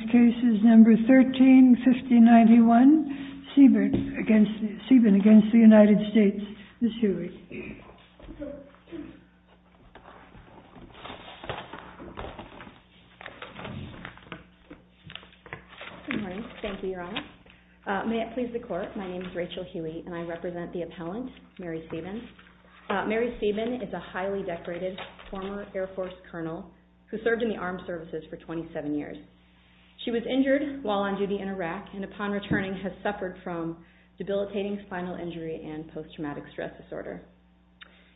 Case No. 13-5091, Sieben v. United States, Ms. Hewey. Good morning. Thank you, Your Honor. May it please the Court, my name is Rachel Hewey and I represent the appellant, Mary Sieben. Mary Sieben is a highly decorated former Air Force Colonel who served in the armed services for 27 years. She was injured while on duty in Iraq and upon returning has suffered from debilitating spinal injury and post-traumatic stress disorder.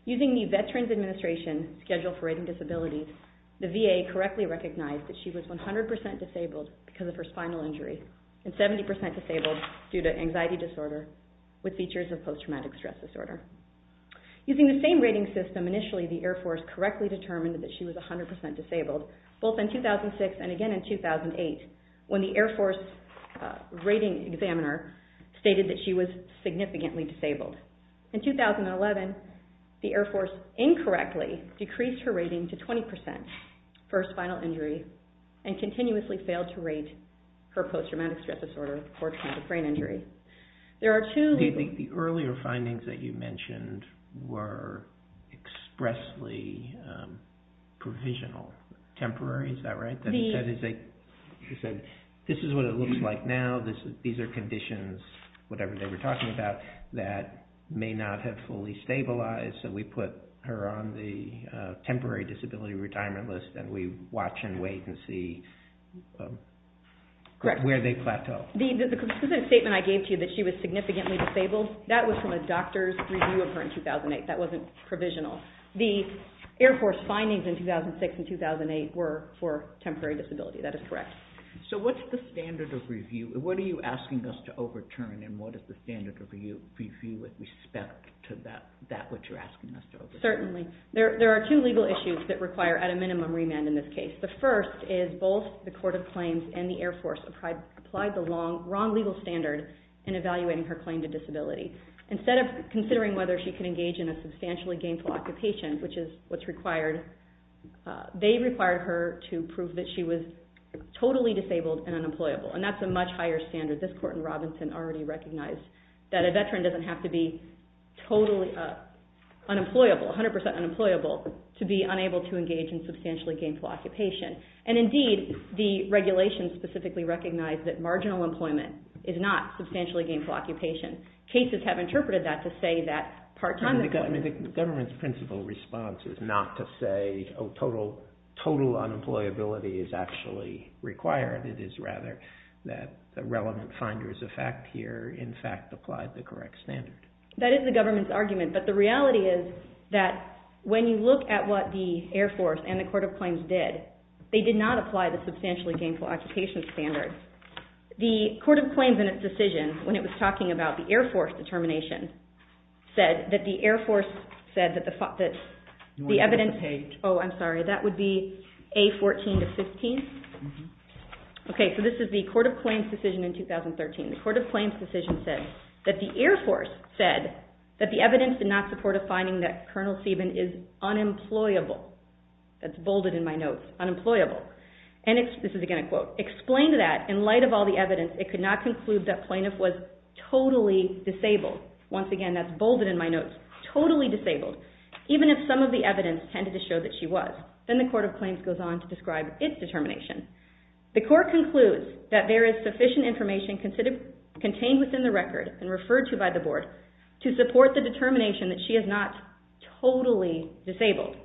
Using the Veterans Administration Schedule for Rating Disabilities, the VA correctly recognized that she was 100% disabled because of her spinal injury and 70% disabled due to anxiety disorder with features of post-traumatic stress disorder. Using the same rating system, initially the Air Force correctly determined that she was 100% disabled both in 2006 and again in 2008 when the Air Force rating examiner stated that she was significantly disabled. In 2011, the Air Force incorrectly decreased her rating to 20% for her spinal injury and continuously failed to rate her post-traumatic stress disorder for traumatic brain injury. The earlier findings that you mentioned were expressly provisional, temporary, is that right? This is what it looks like now, these are conditions, whatever they were talking about, that may not have fully stabilized so we put her on the temporary disability retirement list and we watch and wait and see where they plateau. The statement I gave to you that she was significantly disabled, that was from a doctor's review of her in 2008, that wasn't provisional. The Air Force findings in 2006 and 2008 were for temporary disability, that is correct. So what's the standard of review, what are you asking us to overturn and what is the standard of review with respect to that which you're asking us to overturn? Certainly, there are two legal issues that require at a minimum remand in this case. The first is both the Court of Claims and the Air Force applied the wrong legal standard in evaluating her claim to disability. Instead of considering whether she could engage in a substantially gainful occupation, which is what's required, they required her to prove that she was totally disabled and unemployable and that's a much higher standard. This court in Robinson already recognized that a veteran doesn't have to be totally unemployable, 100% unemployable, to be unable to engage in substantially gainful occupation. And indeed, the regulations specifically recognize that marginal employment is not substantially gainful occupation. Cases have interpreted that to say that part-time employment... The government's principle response is not to say total unemployability is actually required. It is rather that the relevant finder's effect here in fact applied the correct standard. That is the government's argument, but the reality is that when you look at what the Air Force and the Court of Claims did, they did not apply the substantially gainful occupation standard. The Court of Claims in its decision, when it was talking about the Air Force determination, said that the Air Force said that the evidence... Oh, I'm sorry, that would be A14-15? Okay, so this is the Court of Claims decision in 2013. The Court of Claims decision said that the Air Force said that the evidence did not support a finding that Col. Sieben is unemployable. That's bolded in my notes, unemployable. This is again a quote. Explained that, in light of all the evidence, it could not conclude that plaintiff was totally disabled. Once again, that's bolded in my notes, totally disabled. Even if some of the evidence tended to show that she was. Then the Court of Claims goes on to describe its determination. The Court concludes that there is sufficient information contained within the record and referred to by the Board to support the determination that she is not totally disabled.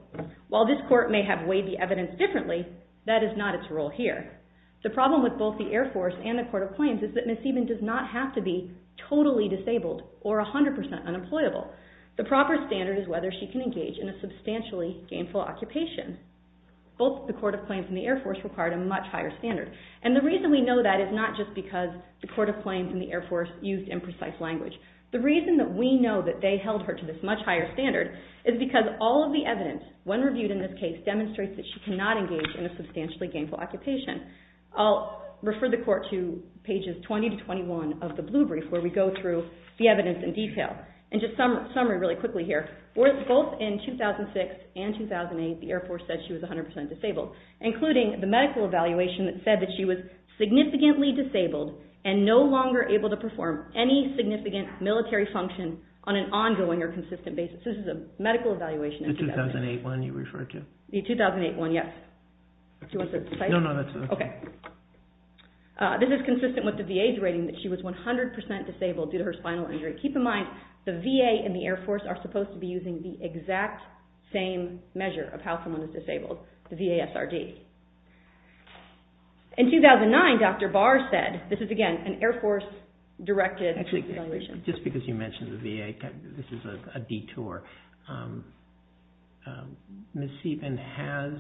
While this Court may have weighed the evidence differently, that is not its role here. The problem with both the Air Force and the Court of Claims is that Ms. Sieben does not have to be totally disabled or 100% unemployable. The proper standard is whether she can engage in a substantially gainful occupation. Both the Court of Claims and the Air Force required a much higher standard. And the reason we know that is not just because the Court of Claims and the Air Force used imprecise language. The reason that we know that they held her to this much higher standard is because all of the evidence, when reviewed in this case, demonstrates that she cannot engage in a substantially gainful occupation. I'll refer the Court to pages 20 to 21 of the Blue Brief where we go through the evidence in detail. And just a summary really quickly here. Both in 2006 and 2008, the Air Force said she was 100% disabled, including the medical evaluation that said that she was significantly disabled and no longer able to perform any significant military function on an ongoing or consistent basis. This is a medical evaluation in 2008. The 2008 one you referred to? The 2008 one, yes. Do you want to cite it? No, no, that's okay. Okay. This is consistent with the VA's rating that she was 100% disabled due to her spinal injury. Keep in mind, the VA and the Air Force are supposed to be using the exact same measure of how someone is disabled, the VASRD. In 2009, Dr. Barr said, this is again an Air Force-directed evaluation. Actually, just because you mentioned the VA, this is a detour. Ms. Sieben has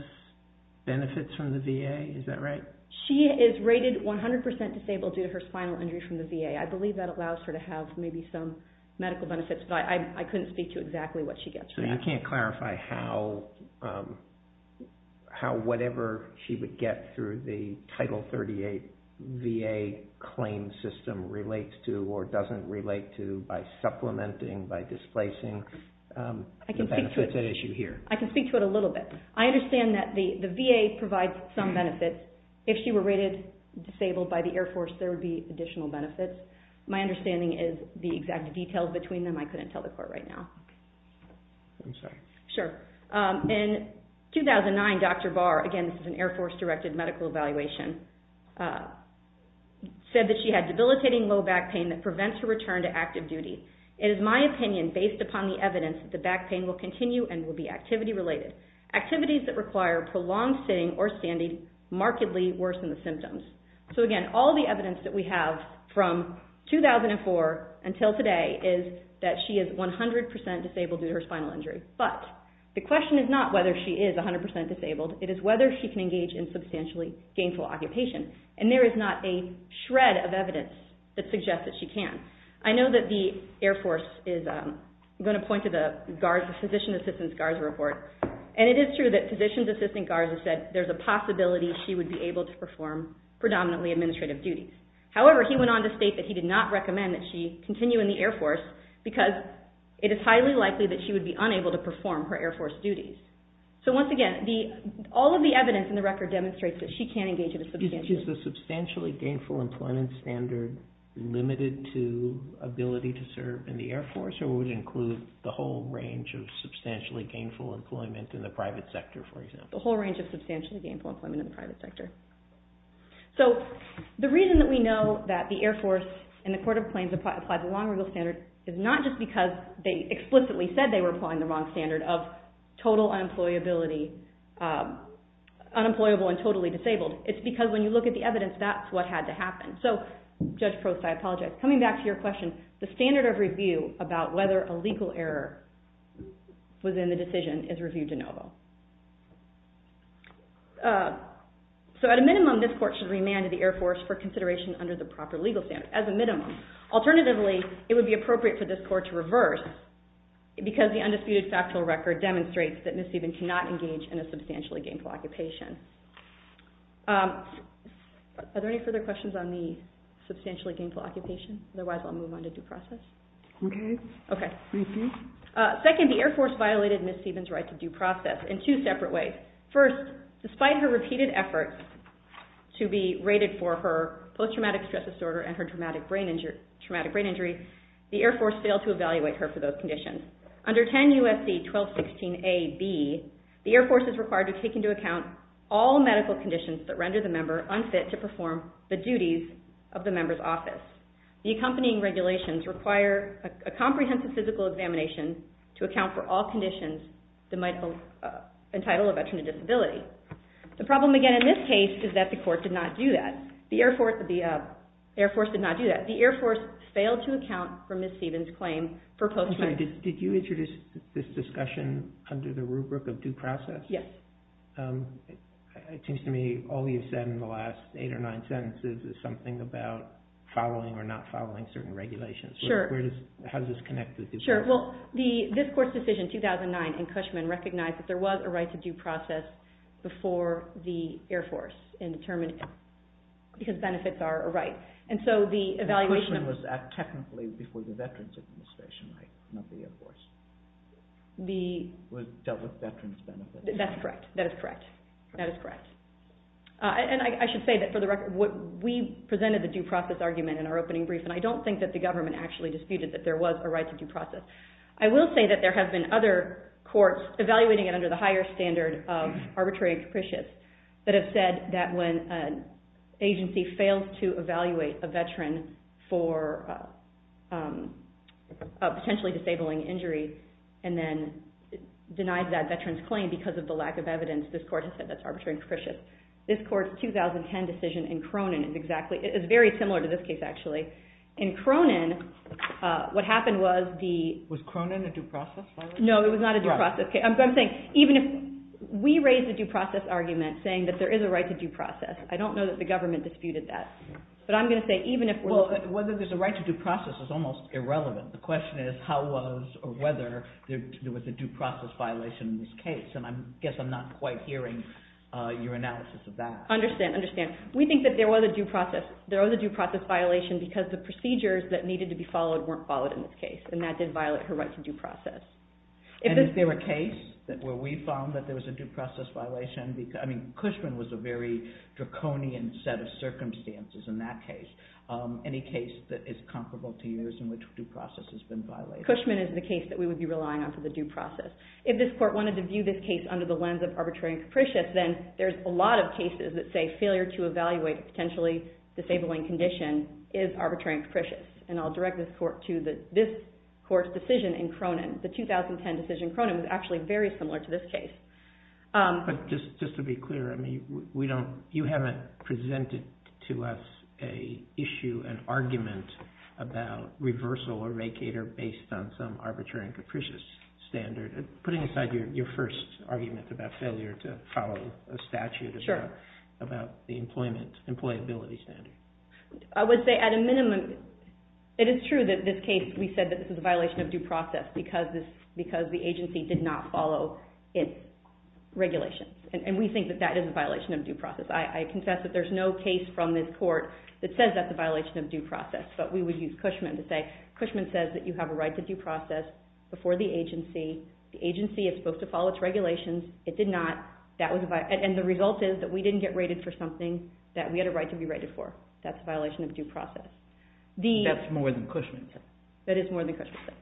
benefits from the VA, is that right? She is rated 100% disabled due to her spinal injury from the VA. I believe that allows her to have maybe some medical benefits, but I couldn't speak to exactly what she gets from that. You can't clarify how whatever she would get through the Title 38 VA claim system relates to or doesn't relate to by supplementing, by displacing the benefits at issue here? I can speak to it a little bit. I understand that the VA provides some benefits. If she were rated disabled by the Air Force, there would be additional benefits. My understanding is the exact details between them, I couldn't tell the court right now. I'm sorry. Sure. In 2009, Dr. Barr, again, this is an Air Force-directed medical evaluation, said that she had debilitating low back pain that prevents her return to active duty. It is my opinion, based upon the evidence, that the back pain will continue and will be activity-related. Activities that require prolonged sitting or standing markedly worsen the symptoms. So, again, all the evidence that we have from 2004 until today is that she is 100% disabled due to her spinal injury. But the question is not whether she is 100% disabled. It is whether she can engage in substantially gainful occupation. And there is not a shred of evidence that suggests that she can. I know that the Air Force is going to point to the physician's assistant's GARS report. And it is true that physician's assistant's GARS has said there is a possibility she would be able to perform predominantly administrative duties. However, he went on to state that he did not recommend that she continue in the Air Force because it is highly likely that she would be unable to perform her Air Force duties. So, once again, all of the evidence in the record demonstrates that she can engage in a substantially gainful occupation. Is the substantially gainful employment standard limited to ability to serve in the Air Force or would it include the whole range of substantially gainful employment in the private sector, for example? The whole range of substantially gainful employment in the private sector. So, the reason that we know that the Air Force and the Court of Claims applied the long rule standard is not just because they explicitly said they were applying the wrong standard of total unemployability, unemployable and totally disabled. It is because when you look at the evidence, that is what had to happen. So, Judge Prost, I apologize. Coming back to your question, the standard of review about whether a legal error was in the decision is review de novo. So, at a minimum, this court should remand the Air Force for consideration under the proper legal standard. As a minimum. Alternatively, it would be appropriate for this court to reverse because the undisputed factual record demonstrates that Ms. Steven cannot engage in a substantially gainful occupation. Are there any further questions on the substantially gainful occupation? Otherwise, I'll move on to due process. Okay. Okay. Second, the Air Force violated Ms. Steven's right to due process in two separate ways. First, despite her repeated efforts to be rated for her post-traumatic stress disorder and her traumatic brain injury, the Air Force failed to evaluate her for those conditions. Under 10 U.S.C. 1216a.b., the Air Force is required to take into account all medical conditions that render the member unfit to perform the duties of the member's office. The accompanying regulations require a comprehensive physical examination to account for all conditions that might entitle a veteran a disability. The problem, again, in this case is that the court did not do that. The Air Force did not do that. The Air Force failed to account for Ms. Steven's claim for post-traumatic stress disorder. Did you introduce this discussion under the rubric of due process? Yes. It seems to me all you've said in the last eight or nine sentences is something about following or not following certain regulations. Sure. How does this connect with the court? Sure. Well, this court's decision, 2009, in Cushman, recognized that there was a right to due process before the Air Force because benefits are a right. Cushman was technically before the Veterans Administration, right? Not the Air Force. It was dealt with veterans' benefits. That's correct. That is correct. That is correct. And I should say that for the record, we presented the due process argument in our opening brief, and I don't think that the government actually disputed that there was a right to due process. I will say that there have been other courts evaluating it under the higher standard of arbitrary and capricious that have said that when an agency fails to evaluate a veteran for a potentially disabling injury and then denies that veteran's claim because of the lack of evidence, this court has said that's arbitrary and capricious. This court's 2010 decision in Cronin is very similar to this case, actually. In Cronin, what happened was the— Was Cronin a due process violation? No, it was not a due process. I'm saying even if—we raised the due process argument saying that there is a right to due process. I don't know that the government disputed that. But I'm going to say even if— Well, whether there's a right to due process is almost irrelevant. The question is how was or whether there was a due process violation in this case, and I guess I'm not quite hearing your analysis of that. Understand. Understand. We think that there was a due process. There was a due process violation because the procedures that needed to be followed weren't followed in this case, and that did violate her right to due process. And is there a case where we found that there was a due process violation? I mean, Cushman was a very draconian set of circumstances in that case. Any case that is comparable to yours in which due process has been violated? Cushman is the case that we would be relying on for the due process. If this court wanted to view this case under the lens of arbitrary and capricious, then there's a lot of cases that say failure to evaluate a potentially disabling condition is arbitrary and capricious, and I'll direct this court to this court's decision in Cronin. The 2010 decision in Cronin was actually very similar to this case. But just to be clear, I mean, you haven't presented to us an issue, an argument about reversal or vacater based on some arbitrary and capricious standard. Putting aside your first argument about failure to follow a statute, about the employability standard. I would say at a minimum, it is true that this case, we said that this is a violation of due process because the agency did not follow its regulations. And we think that that is a violation of due process. I confess that there's no case from this court that says that's a violation of due process. But we would use Cushman to say Cushman says that you have a right to due process before the agency. The agency is supposed to follow its regulations. It did not. And the result is that we didn't get rated for something that we had a right to be rated for. That's a violation of due process. That's more than Cushman said. That is more than Cushman said.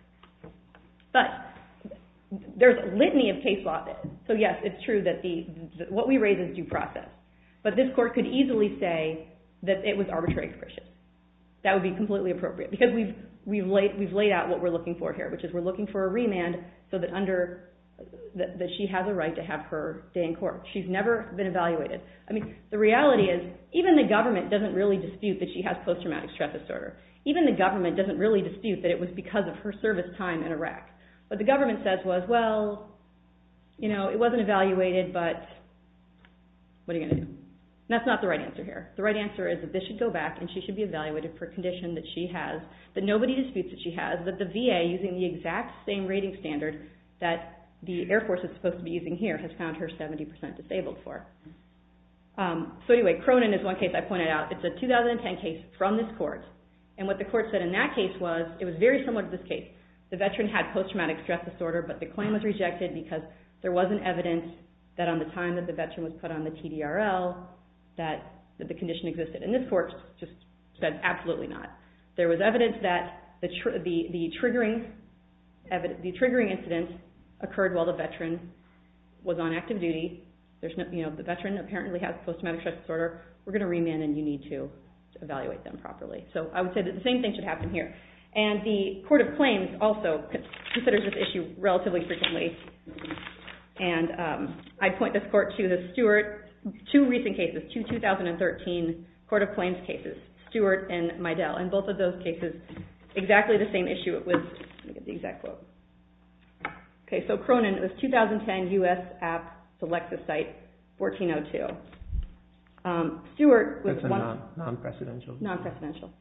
But there's a litany of cases like this. So yes, it's true that what we raise is due process. But this court could easily say that it was arbitrary and capricious. That would be completely appropriate because we've laid out what we're looking for here, which is we're looking for a remand so that she has a right to have her day in court. She's never been evaluated. The reality is even the government doesn't really dispute that she has post-traumatic stress disorder. Even the government doesn't really dispute that it was because of her service time in Iraq. What the government says was, well, it wasn't evaluated, but what are you going to do? That's not the right answer here. The right answer is that this should go back and she should be evaluated for a condition that she has that nobody disputes that she has, that the VA, using the exact same rating standard that the Air Force is supposed to be using here, has found her 70% disabled for. So anyway, Cronin is one case I pointed out. It's a 2010 case from this court. And what the court said in that case was it was very similar to this case. The veteran had post-traumatic stress disorder, but the claim was rejected because there wasn't evidence that on the time that the veteran was put on the TDRL that the condition existed. And this court just said absolutely not. There was evidence that the triggering incident occurred while the veteran was on active duty. The veteran apparently has post-traumatic stress disorder. We're going to remand and you need to evaluate them properly. So I would say that the same thing should happen here. And the Court of Claims also considers this issue relatively frequently. And I point this court to the Stewart, two recent cases, two 2013 Court of Claims cases, Stewart and Meidel. In both of those cases, exactly the same issue it was. Let me get the exact quote. Okay, so Cronin, it was 2010 U.S. App, Selexis site, 1402. Stewart was... That's a non-presidential. Non-presidential.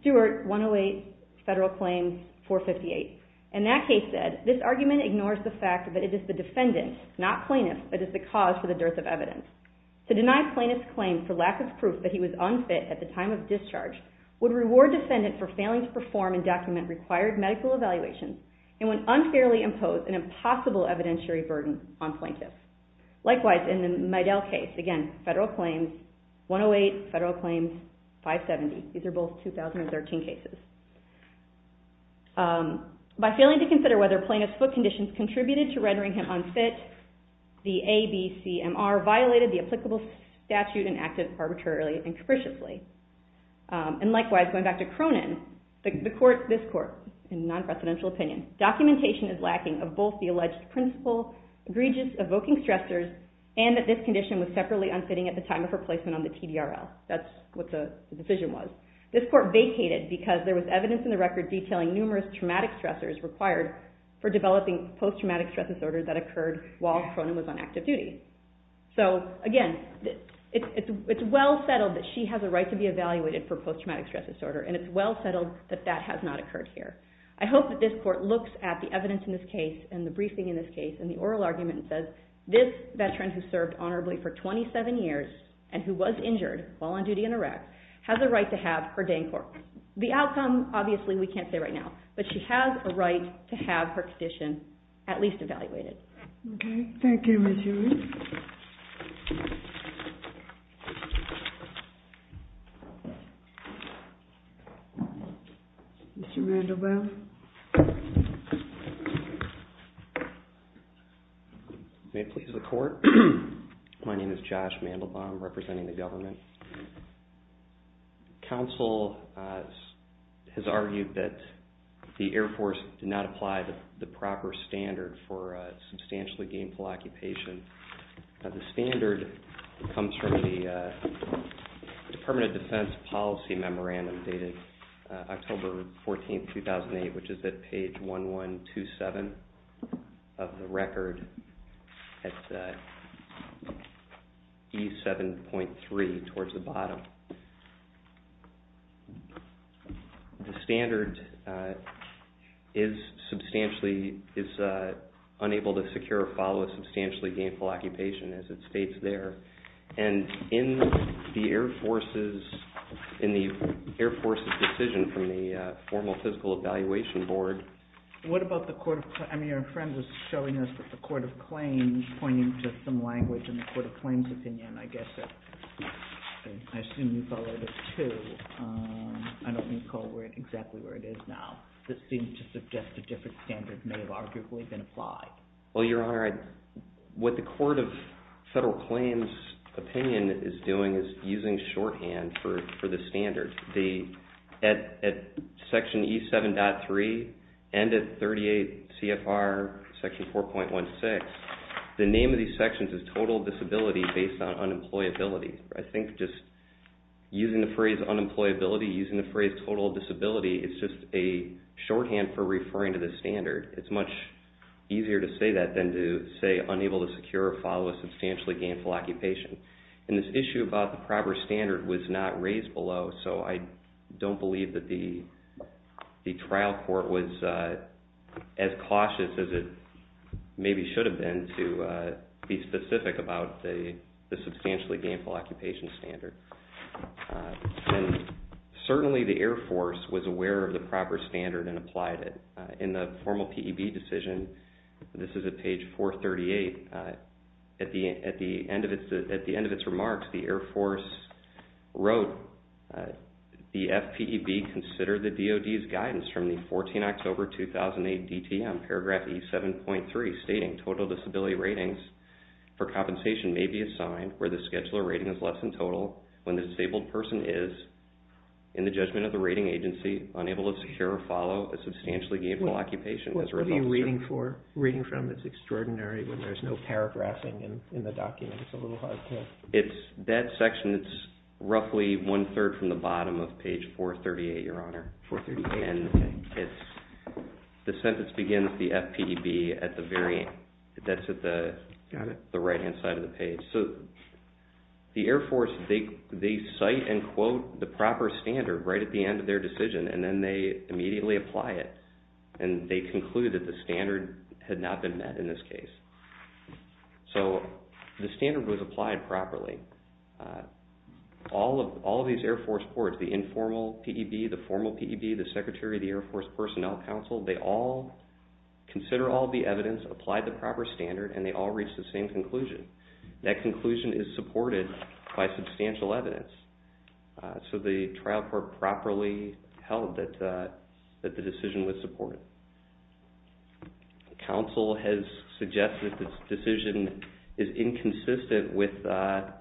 Stewart, 108, Federal Claims, 458. And that case said, This argument ignores the fact that it is the defendant, not plaintiff, that is the cause for the dearth of evidence. To deny plaintiff's claim for lack of proof that he was unfit at the time of discharge would reward defendant for failing to perform and document required medical evaluations and would unfairly impose an impossible evidentiary burden on plaintiff. Likewise, in the Meidel case, again, Federal Claims, 108, Federal Claims, 570. These are both 2013 cases. By failing to consider whether plaintiff's foot conditions contributed to rendering him unfit, the ABCMR violated the applicable statute and acted arbitrarily and capriciously. And likewise, going back to Cronin, this court, in non-presidential opinion, documentation is lacking of both the alleged principal egregious evoking stressors and that this condition was separately unfitting at the time of her placement on the TDRL. That's what the decision was. This court vacated because there was evidence in the record detailing numerous traumatic stressors required for developing post-traumatic stress disorder that occurred while Cronin was on active duty. So, again, it's well settled that she has a right to be evaluated for post-traumatic stress disorder and it's well settled that that has not occurred here. I hope that this court looks at the evidence in this case and the briefing in this case and the oral argument and says this veteran who served honorably for 27 years and who was injured while on duty in Iraq has a right to have her day in court. The outcome, obviously, we can't say right now. But she has a right to have her condition at least evaluated. Okay. Thank you, Ms. Hewitt. Mr. Mandelbaum. May it please the court? My name is Josh Mandelbaum representing the government. Counsel has argued that the Air Force did not apply the proper standard for substantially gainful occupation. The standard comes from the Permanent Defense Policy Memorandum dated October 14, 2008, which is at page 1127 of the record at E7.3 towards the bottom. The standard is unable to secure or follow a substantially gainful occupation as it states there. And in the Air Force's decision from the Formal Physical Evaluation Board... I mean, your friend was showing us the Court of Claims pointing to some language in the Court of Claims' opinion, I guess. I assume you followed it too. I don't recall exactly where it is now. This seems to suggest a different standard may have arguably been applied. Well, Your Honor, what the Court of Federal Claims' opinion is doing is using shorthand for the standard. At section E7.3 and at 38 CFR section 4.16, the name of these sections is total disability based on unemployability. I think just using the phrase unemployability, using the phrase total disability, it's just a shorthand for referring to the standard. It's much easier to say that than to say unable to secure or follow a substantially gainful occupation. And this issue about the proper standard was not raised below, so I don't believe that the trial court was as cautious as it maybe should have been to be specific about the substantially gainful occupation standard. And certainly the Air Force was aware of the proper standard and applied it. In the formal PEB decision, this is at page 438, at the end of its remarks, the Air Force wrote the FPEB consider the DOD's guidance from the 14 October 2008 DTM paragraph E7.3 stating total disability ratings for compensation may be assigned where the scheduler rating is less than total when the disabled person is, in the judgment of the rating agency, unable to secure or follow a substantially gainful occupation. What are you reading from? It's extraordinary when there's no paragraphing in the document. It's a little hard to... That section is roughly one-third from the bottom of page 438, Your Honor. 438. And the sentence begins the FPEB at the very end. That's at the right-hand side of the page. So the Air Force, they cite and quote the proper standard right at the end of their decision, and then they immediately apply it. And they conclude that the standard had not been met in this case. So the standard was applied properly. All of these Air Force courts, the informal PEB, the formal PEB, the Secretary of the Air Force Personnel Council, they all consider all the evidence, apply the proper standard, and they all reach the same conclusion. That conclusion is supported by substantial evidence. So the trial court properly held that the decision was supported. The counsel has suggested that the decision is inconsistent with a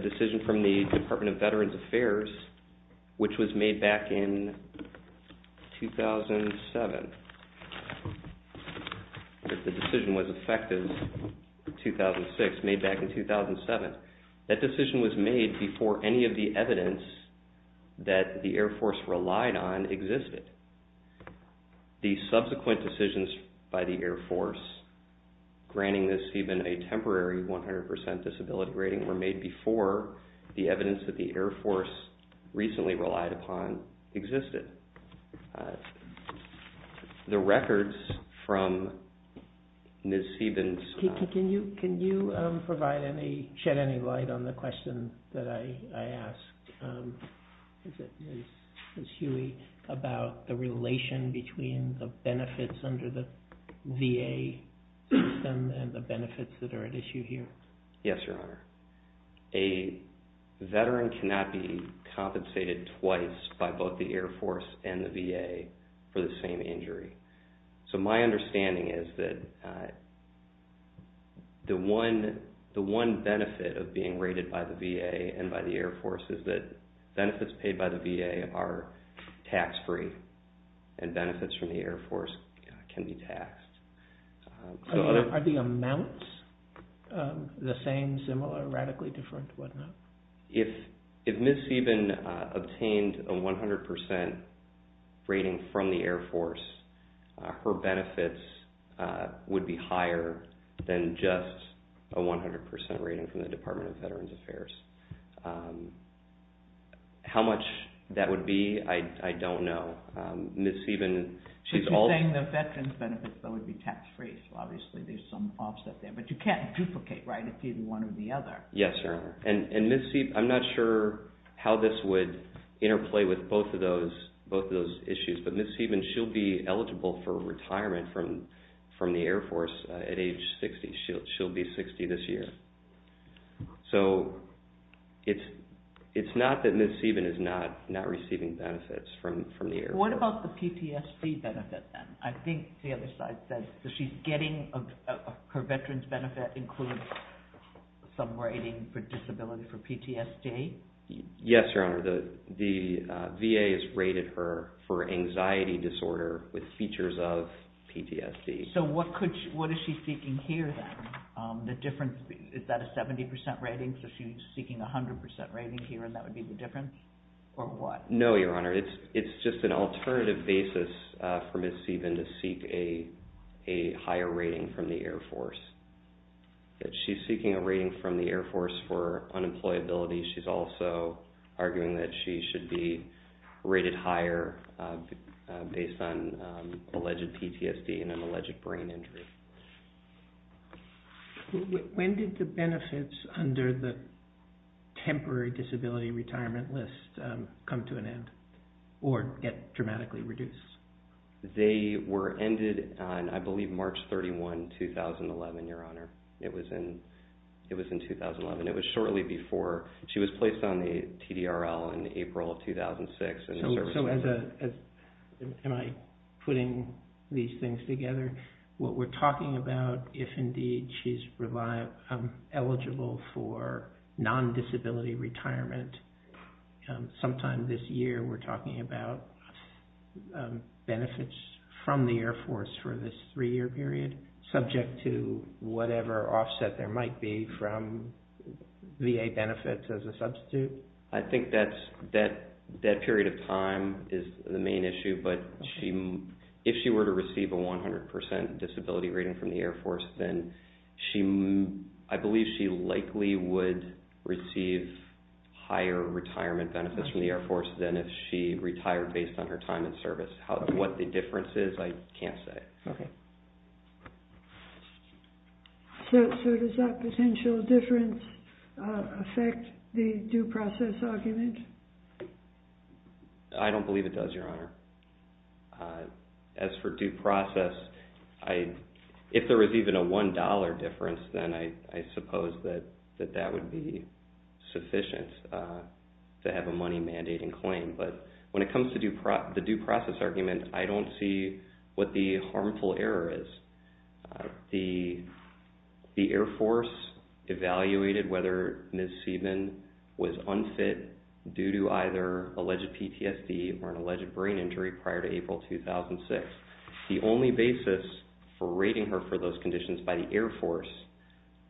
decision from the Department of Veterans Affairs, which was made back in 2007, that the decision was effective 2006, made back in 2007. That decision was made before any of the evidence that the Air Force relied on existed. The subsequent decisions by the Air Force granting Ms. Heuban a temporary 100% disability rating were made before the evidence that the Air Force recently relied upon existed. The records from Ms. Heuban's... Can you shed any light on the question that I asked Ms. Huey about the relation between the benefits under the VA system and the benefits that are at issue here? Yes, Your Honor. A veteran cannot be compensated twice by both the Air Force and the VA for the same injury. So my understanding is that the one benefit of being rated by the VA and by the Air Force is that benefits paid by the VA are tax-free and benefits from the Air Force can be taxed. Are the amounts the same, similar, radically different, whatnot? If Ms. Heuban obtained a 100% rating from the Air Force, her benefits would be higher than just a 100% rating from the Department of Veterans Affairs. How much that would be, I don't know. Ms. Heuban... But you're saying the veterans benefits would be tax-free, so obviously there's some offset there. But you can't duplicate, right, it's either one or the other. Yes, Your Honor. And Ms. Heuban... I'm not sure how this would interplay with both of those issues, but Ms. Heuban, she'll be eligible for retirement from the Air Force at age 60. She'll be 60 this year. So it's not that Ms. Heuban is not receiving benefits from the Air Force. What about the PTSD benefit then? I think the other side says that she's getting her veterans benefit includes some rating for disability for PTSD. Yes, Your Honor. The VA has rated her for anxiety disorder with features of PTSD. So what is she seeking here then? Is that a 70% rating, so she's seeking a 100% rating here, and that would be the difference, or what? No, Your Honor. It's just an alternative basis for Ms. Heuban to seek a higher rating from the Air Force. She's seeking a rating from the Air Force for unemployability. She's also arguing that she should be rated higher based on alleged PTSD and an alleged brain injury. When did the benefits under the temporary disability retirement list come to an end or get dramatically reduced? They were ended on, I believe, March 31, 2011, Your Honor. It was in 2011. It was shortly before. She was placed on the TDRL in April of 2006. So am I putting these things together? What we're talking about, if indeed she's eligible for non-disability retirement, sometime this year we're talking about benefits from the Air Force for this three-year period, subject to whatever offset there might be from VA benefits as a substitute? I think that period of time is the main issue. But if she were to receive a 100% disability rating from the Air Force, then I believe she likely would receive higher retirement benefits from the Air Force than if she retired based on her time in service. What the difference is, I can't say. Okay. So does that potential difference affect the due process argument? I don't believe it does, Your Honor. As for due process, if there was even a $1 difference, then I suppose that that would be sufficient to have a money-mandating claim. But when it comes to the due process argument, I don't see what the harmful error is. The Air Force evaluated whether Ms. Seidman was unfit due to either alleged PTSD or an alleged brain injury prior to April 2006. The only basis for rating her for those conditions by the Air Force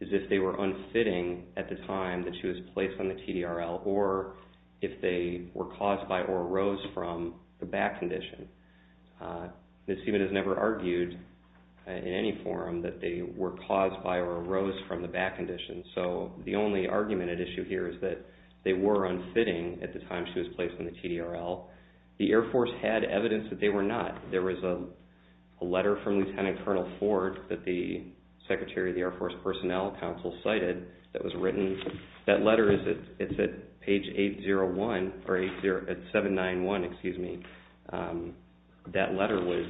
is if they were unfitting at the time that she was placed on the TDRL or if they were caused by or arose from the back condition. Ms. Seidman has never argued in any forum that they were caused by or arose from the back condition. So the only argument at issue here is that they were unfitting at the time she was placed on the TDRL. The Air Force had evidence that they were not. There was a letter from Lieutenant Colonel Ford that the Secretary of the Air Force Personnel Council cited that was written. That letter is at page 8-0-1 or 8-0-7-9-1, excuse me. That letter was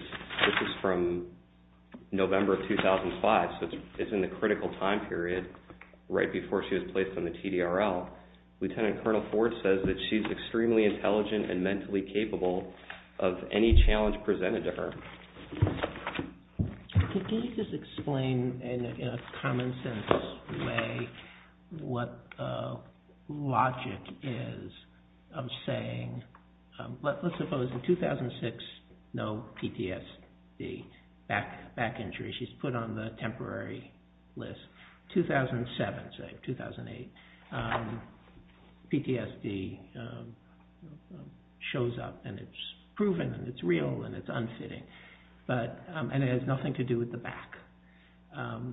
from November of 2005, so it's in the critical time period right before she was placed on the TDRL. Lieutenant Colonel Ford says that she's extremely intelligent and mentally capable of any challenge presented to her. Can you just explain in a common sense way what logic is of saying, let's suppose in 2006, no PTSD, back injury. She's put on the temporary list. 2007, say, 2008, PTSD shows up and it's proven and it's real and it's unfitting and it has nothing to do with the back. I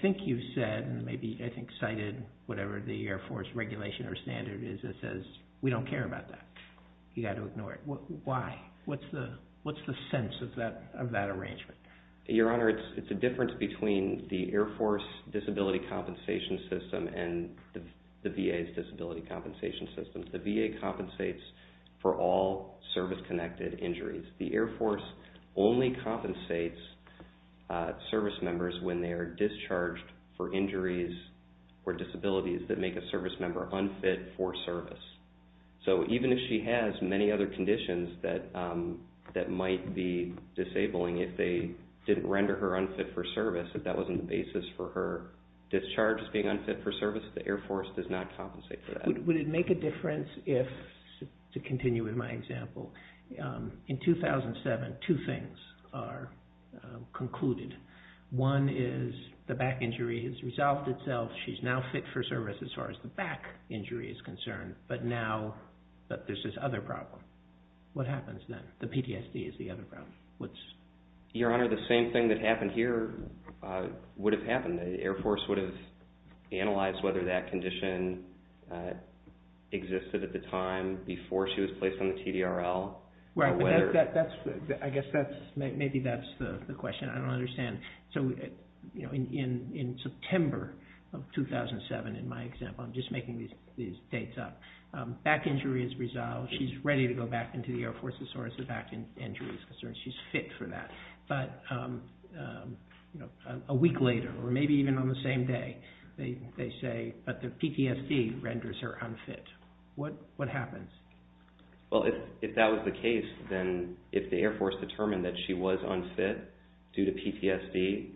think you've said and maybe I think cited whatever the Air Force regulation or standard is that says we don't care about that. You've got to ignore it. Why? What's the sense of that arrangement? Your Honor, it's a difference between the Air Force Disability Compensation System and the VA's Disability Compensation System. The VA compensates for all service-connected injuries. The Air Force only compensates service members when they are discharged for injuries or disabilities that make a service member unfit for service. Even if she has many other conditions that might be disabling, if they didn't render her unfit for service, if that wasn't the basis for her discharge as being unfit for service, the Air Force does not compensate for that. Would it make a difference if, to continue with my example, in 2007 two things are concluded. One is the back injury has resolved itself. She's now fit for service as far as the back injury is concerned, but now there's this other problem. What happens then? The PTSD is the other problem. Your Honor, the same thing that happened here would have happened. The Air Force would have analyzed whether that condition existed at the time before she was placed on the TDRL. I guess maybe that's the question. I don't understand. In September of 2007, in my example, I'm just making these dates up, back injury has resolved. She's ready to go back into the Air Force as far as the back injury is concerned. She's fit for that. But a week later, or maybe even on the same day, they say, but the PTSD renders her unfit. What happens? If that was the case, then if the Air Force determined that she was unfit due to PTSD,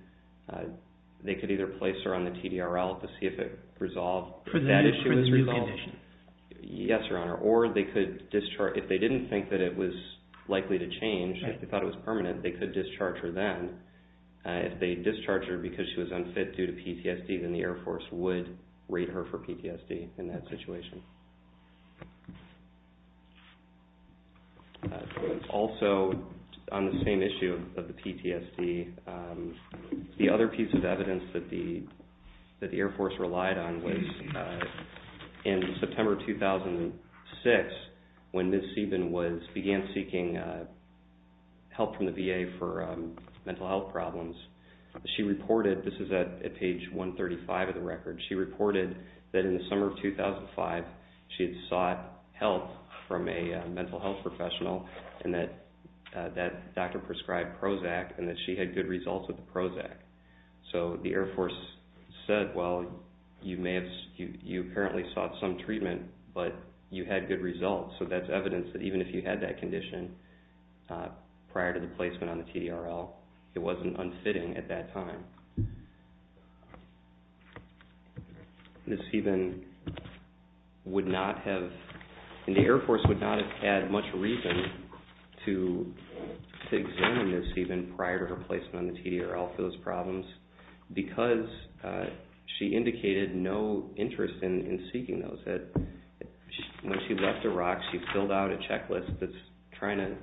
they could either place her on the TDRL to see if it resolved. That issue is resolved. Yes, Your Honor. Or they could discharge. If they didn't think that it was likely to change, if they thought it was permanent, they could discharge her then. If they discharge her because she was unfit due to PTSD, then the Air Force would rate her for PTSD in that situation. Also, on the same issue of the PTSD, the other piece of evidence that the Air Force relied on was in September 2006 when Ms. Sieben began seeking help from the VA for mental health problems. She reported, this is at page 135 of the record, she reported that in the summer of 2005, she had sought help from a mental health professional and that that doctor prescribed Prozac and that she had good results with the Prozac. So the Air Force said, well, you apparently sought some treatment, but you had good results. So that's evidence that even if you had that condition prior to the placement on the TDRL, it wasn't unfitting at that time. Ms. Sieben would not have, and the Air Force would not have had much reason to examine Ms. Sieben prior to her placement on the TDRL for those problems because she indicated no interest in seeking those. When she left Iraq, she filled out a checklist that's trying to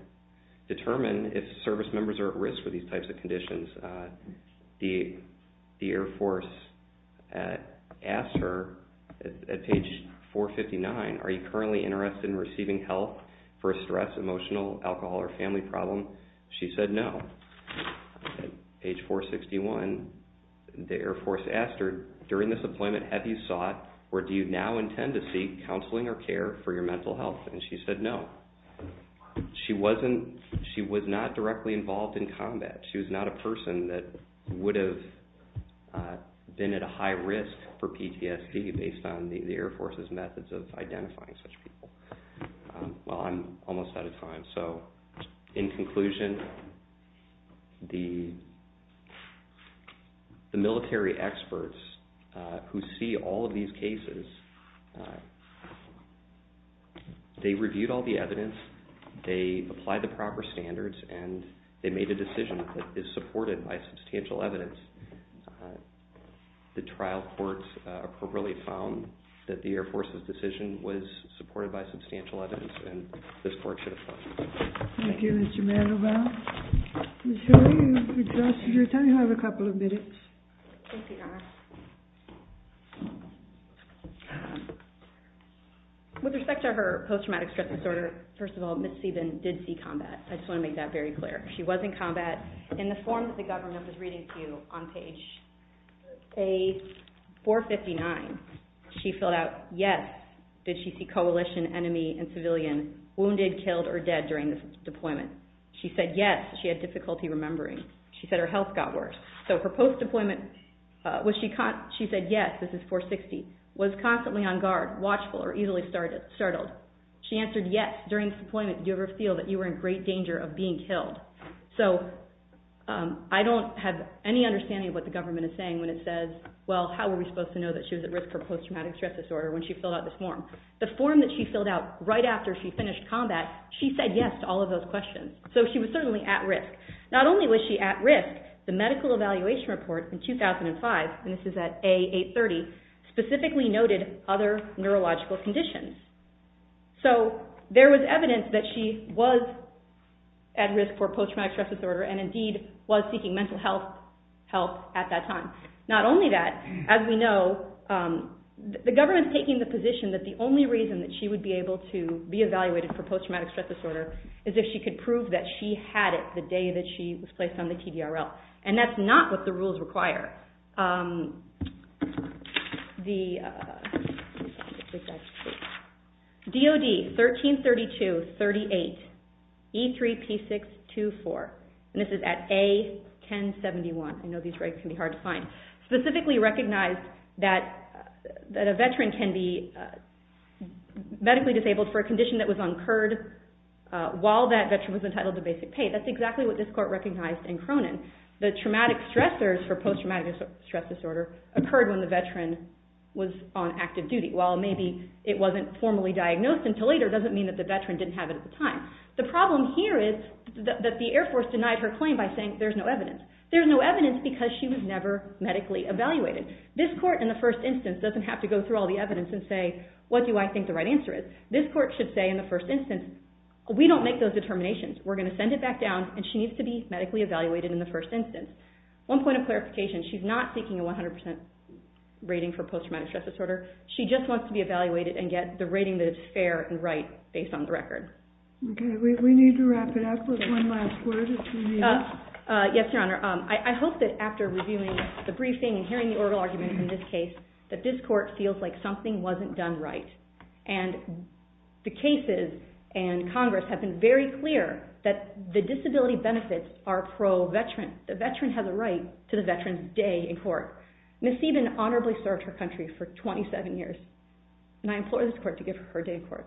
determine The Air Force asked her at page 459, are you currently interested in receiving help for a stress, emotional, alcohol, or family problem? She said no. Page 461, the Air Force asked her, during this appointment, have you sought or do you now intend to seek counseling or care for your mental health? And she said no. She was not directly involved in combat. She was not a person that would have been at a high risk for PTSD based on the Air Force's methods of identifying such people. Well, I'm almost out of time, so in conclusion, the military experts who see all of these cases, they reviewed all the evidence, they applied the proper standards, and they made a decision that is supported by substantial evidence. The trial court appropriately found that the Air Force's decision was supported by substantial evidence, and this court should have done that. Thank you, Mr. Mandelbaum. Ms. Hilliard, you've exhausted your time. You have a couple of minutes. Thank you, Connor. With respect to her post-traumatic stress disorder, first of all, Ms. Sieben did seek combat. I just want to make that very clear. She was in combat. In the form that the government was reading to you on page 459, she filled out yes, did she see coalition, enemy, and civilian wounded, killed, or dead during this deployment. She said yes, she had difficulty remembering. She said her health got worse. So her post-deployment, she said yes, this is 460, was constantly on guard, watchful, or easily startled. She answered yes, during this deployment, you ever feel that you were in great danger of being killed. So I don't have any understanding of what the government is saying when it says, well, how were we supposed to know that she was at risk for post-traumatic stress disorder when she filled out this form. The form that she filled out right after she finished combat, she said yes to all of those questions. So she was certainly at risk. Not only was she at risk, the medical evaluation report in 2005, and this is at A830, specifically noted other neurological conditions. So there was evidence that she was at risk for post-traumatic stress disorder and indeed was seeking mental health help at that time. Not only that, as we know, the government is taking the position that the only reason that she would be able to be evaluated for post-traumatic stress disorder is if she could prove that she had it the day that she was placed on the TDRL. And that's not what the rules require. DOD 1332.38 E3P624, and this is at A1071. I know these records can be hard to find. Specifically recognized that a veteran can be medically disabled for a condition that was incurred while that veteran was entitled to basic pay. That's exactly what this court recognized in Cronin. The traumatic stressors for post-traumatic stress disorder occurred when the veteran was on active duty. While maybe it wasn't formally diagnosed until later, it doesn't mean that the veteran didn't have it at the time. The problem here is that the Air Force denied her claim by saying there's no evidence. There's no evidence because she was never medically evaluated. This court in the first instance doesn't have to go through all the evidence and say, what do I think the right answer is? This court should say in the first instance, we don't make those determinations. We're going to send it back down, and she needs to be medically evaluated in the first instance. One point of clarification, she's not seeking a 100% rating for post-traumatic stress disorder. She just wants to be evaluated and get the rating that is fair and right based on the record. We need to wrap it up with one last word. Yes, Your Honor. I hope that after reviewing the briefing and hearing the oral argument in this case, that this court feels like something wasn't done right. The cases and Congress have been very clear that the disability benefits are pro-veteran. The veteran has a right to the veteran's day in court. Ms. Steven honorably served her country for 27 years, and I implore this court to give her her day in court.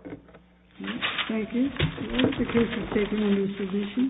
Thank you. The case is taken into submission.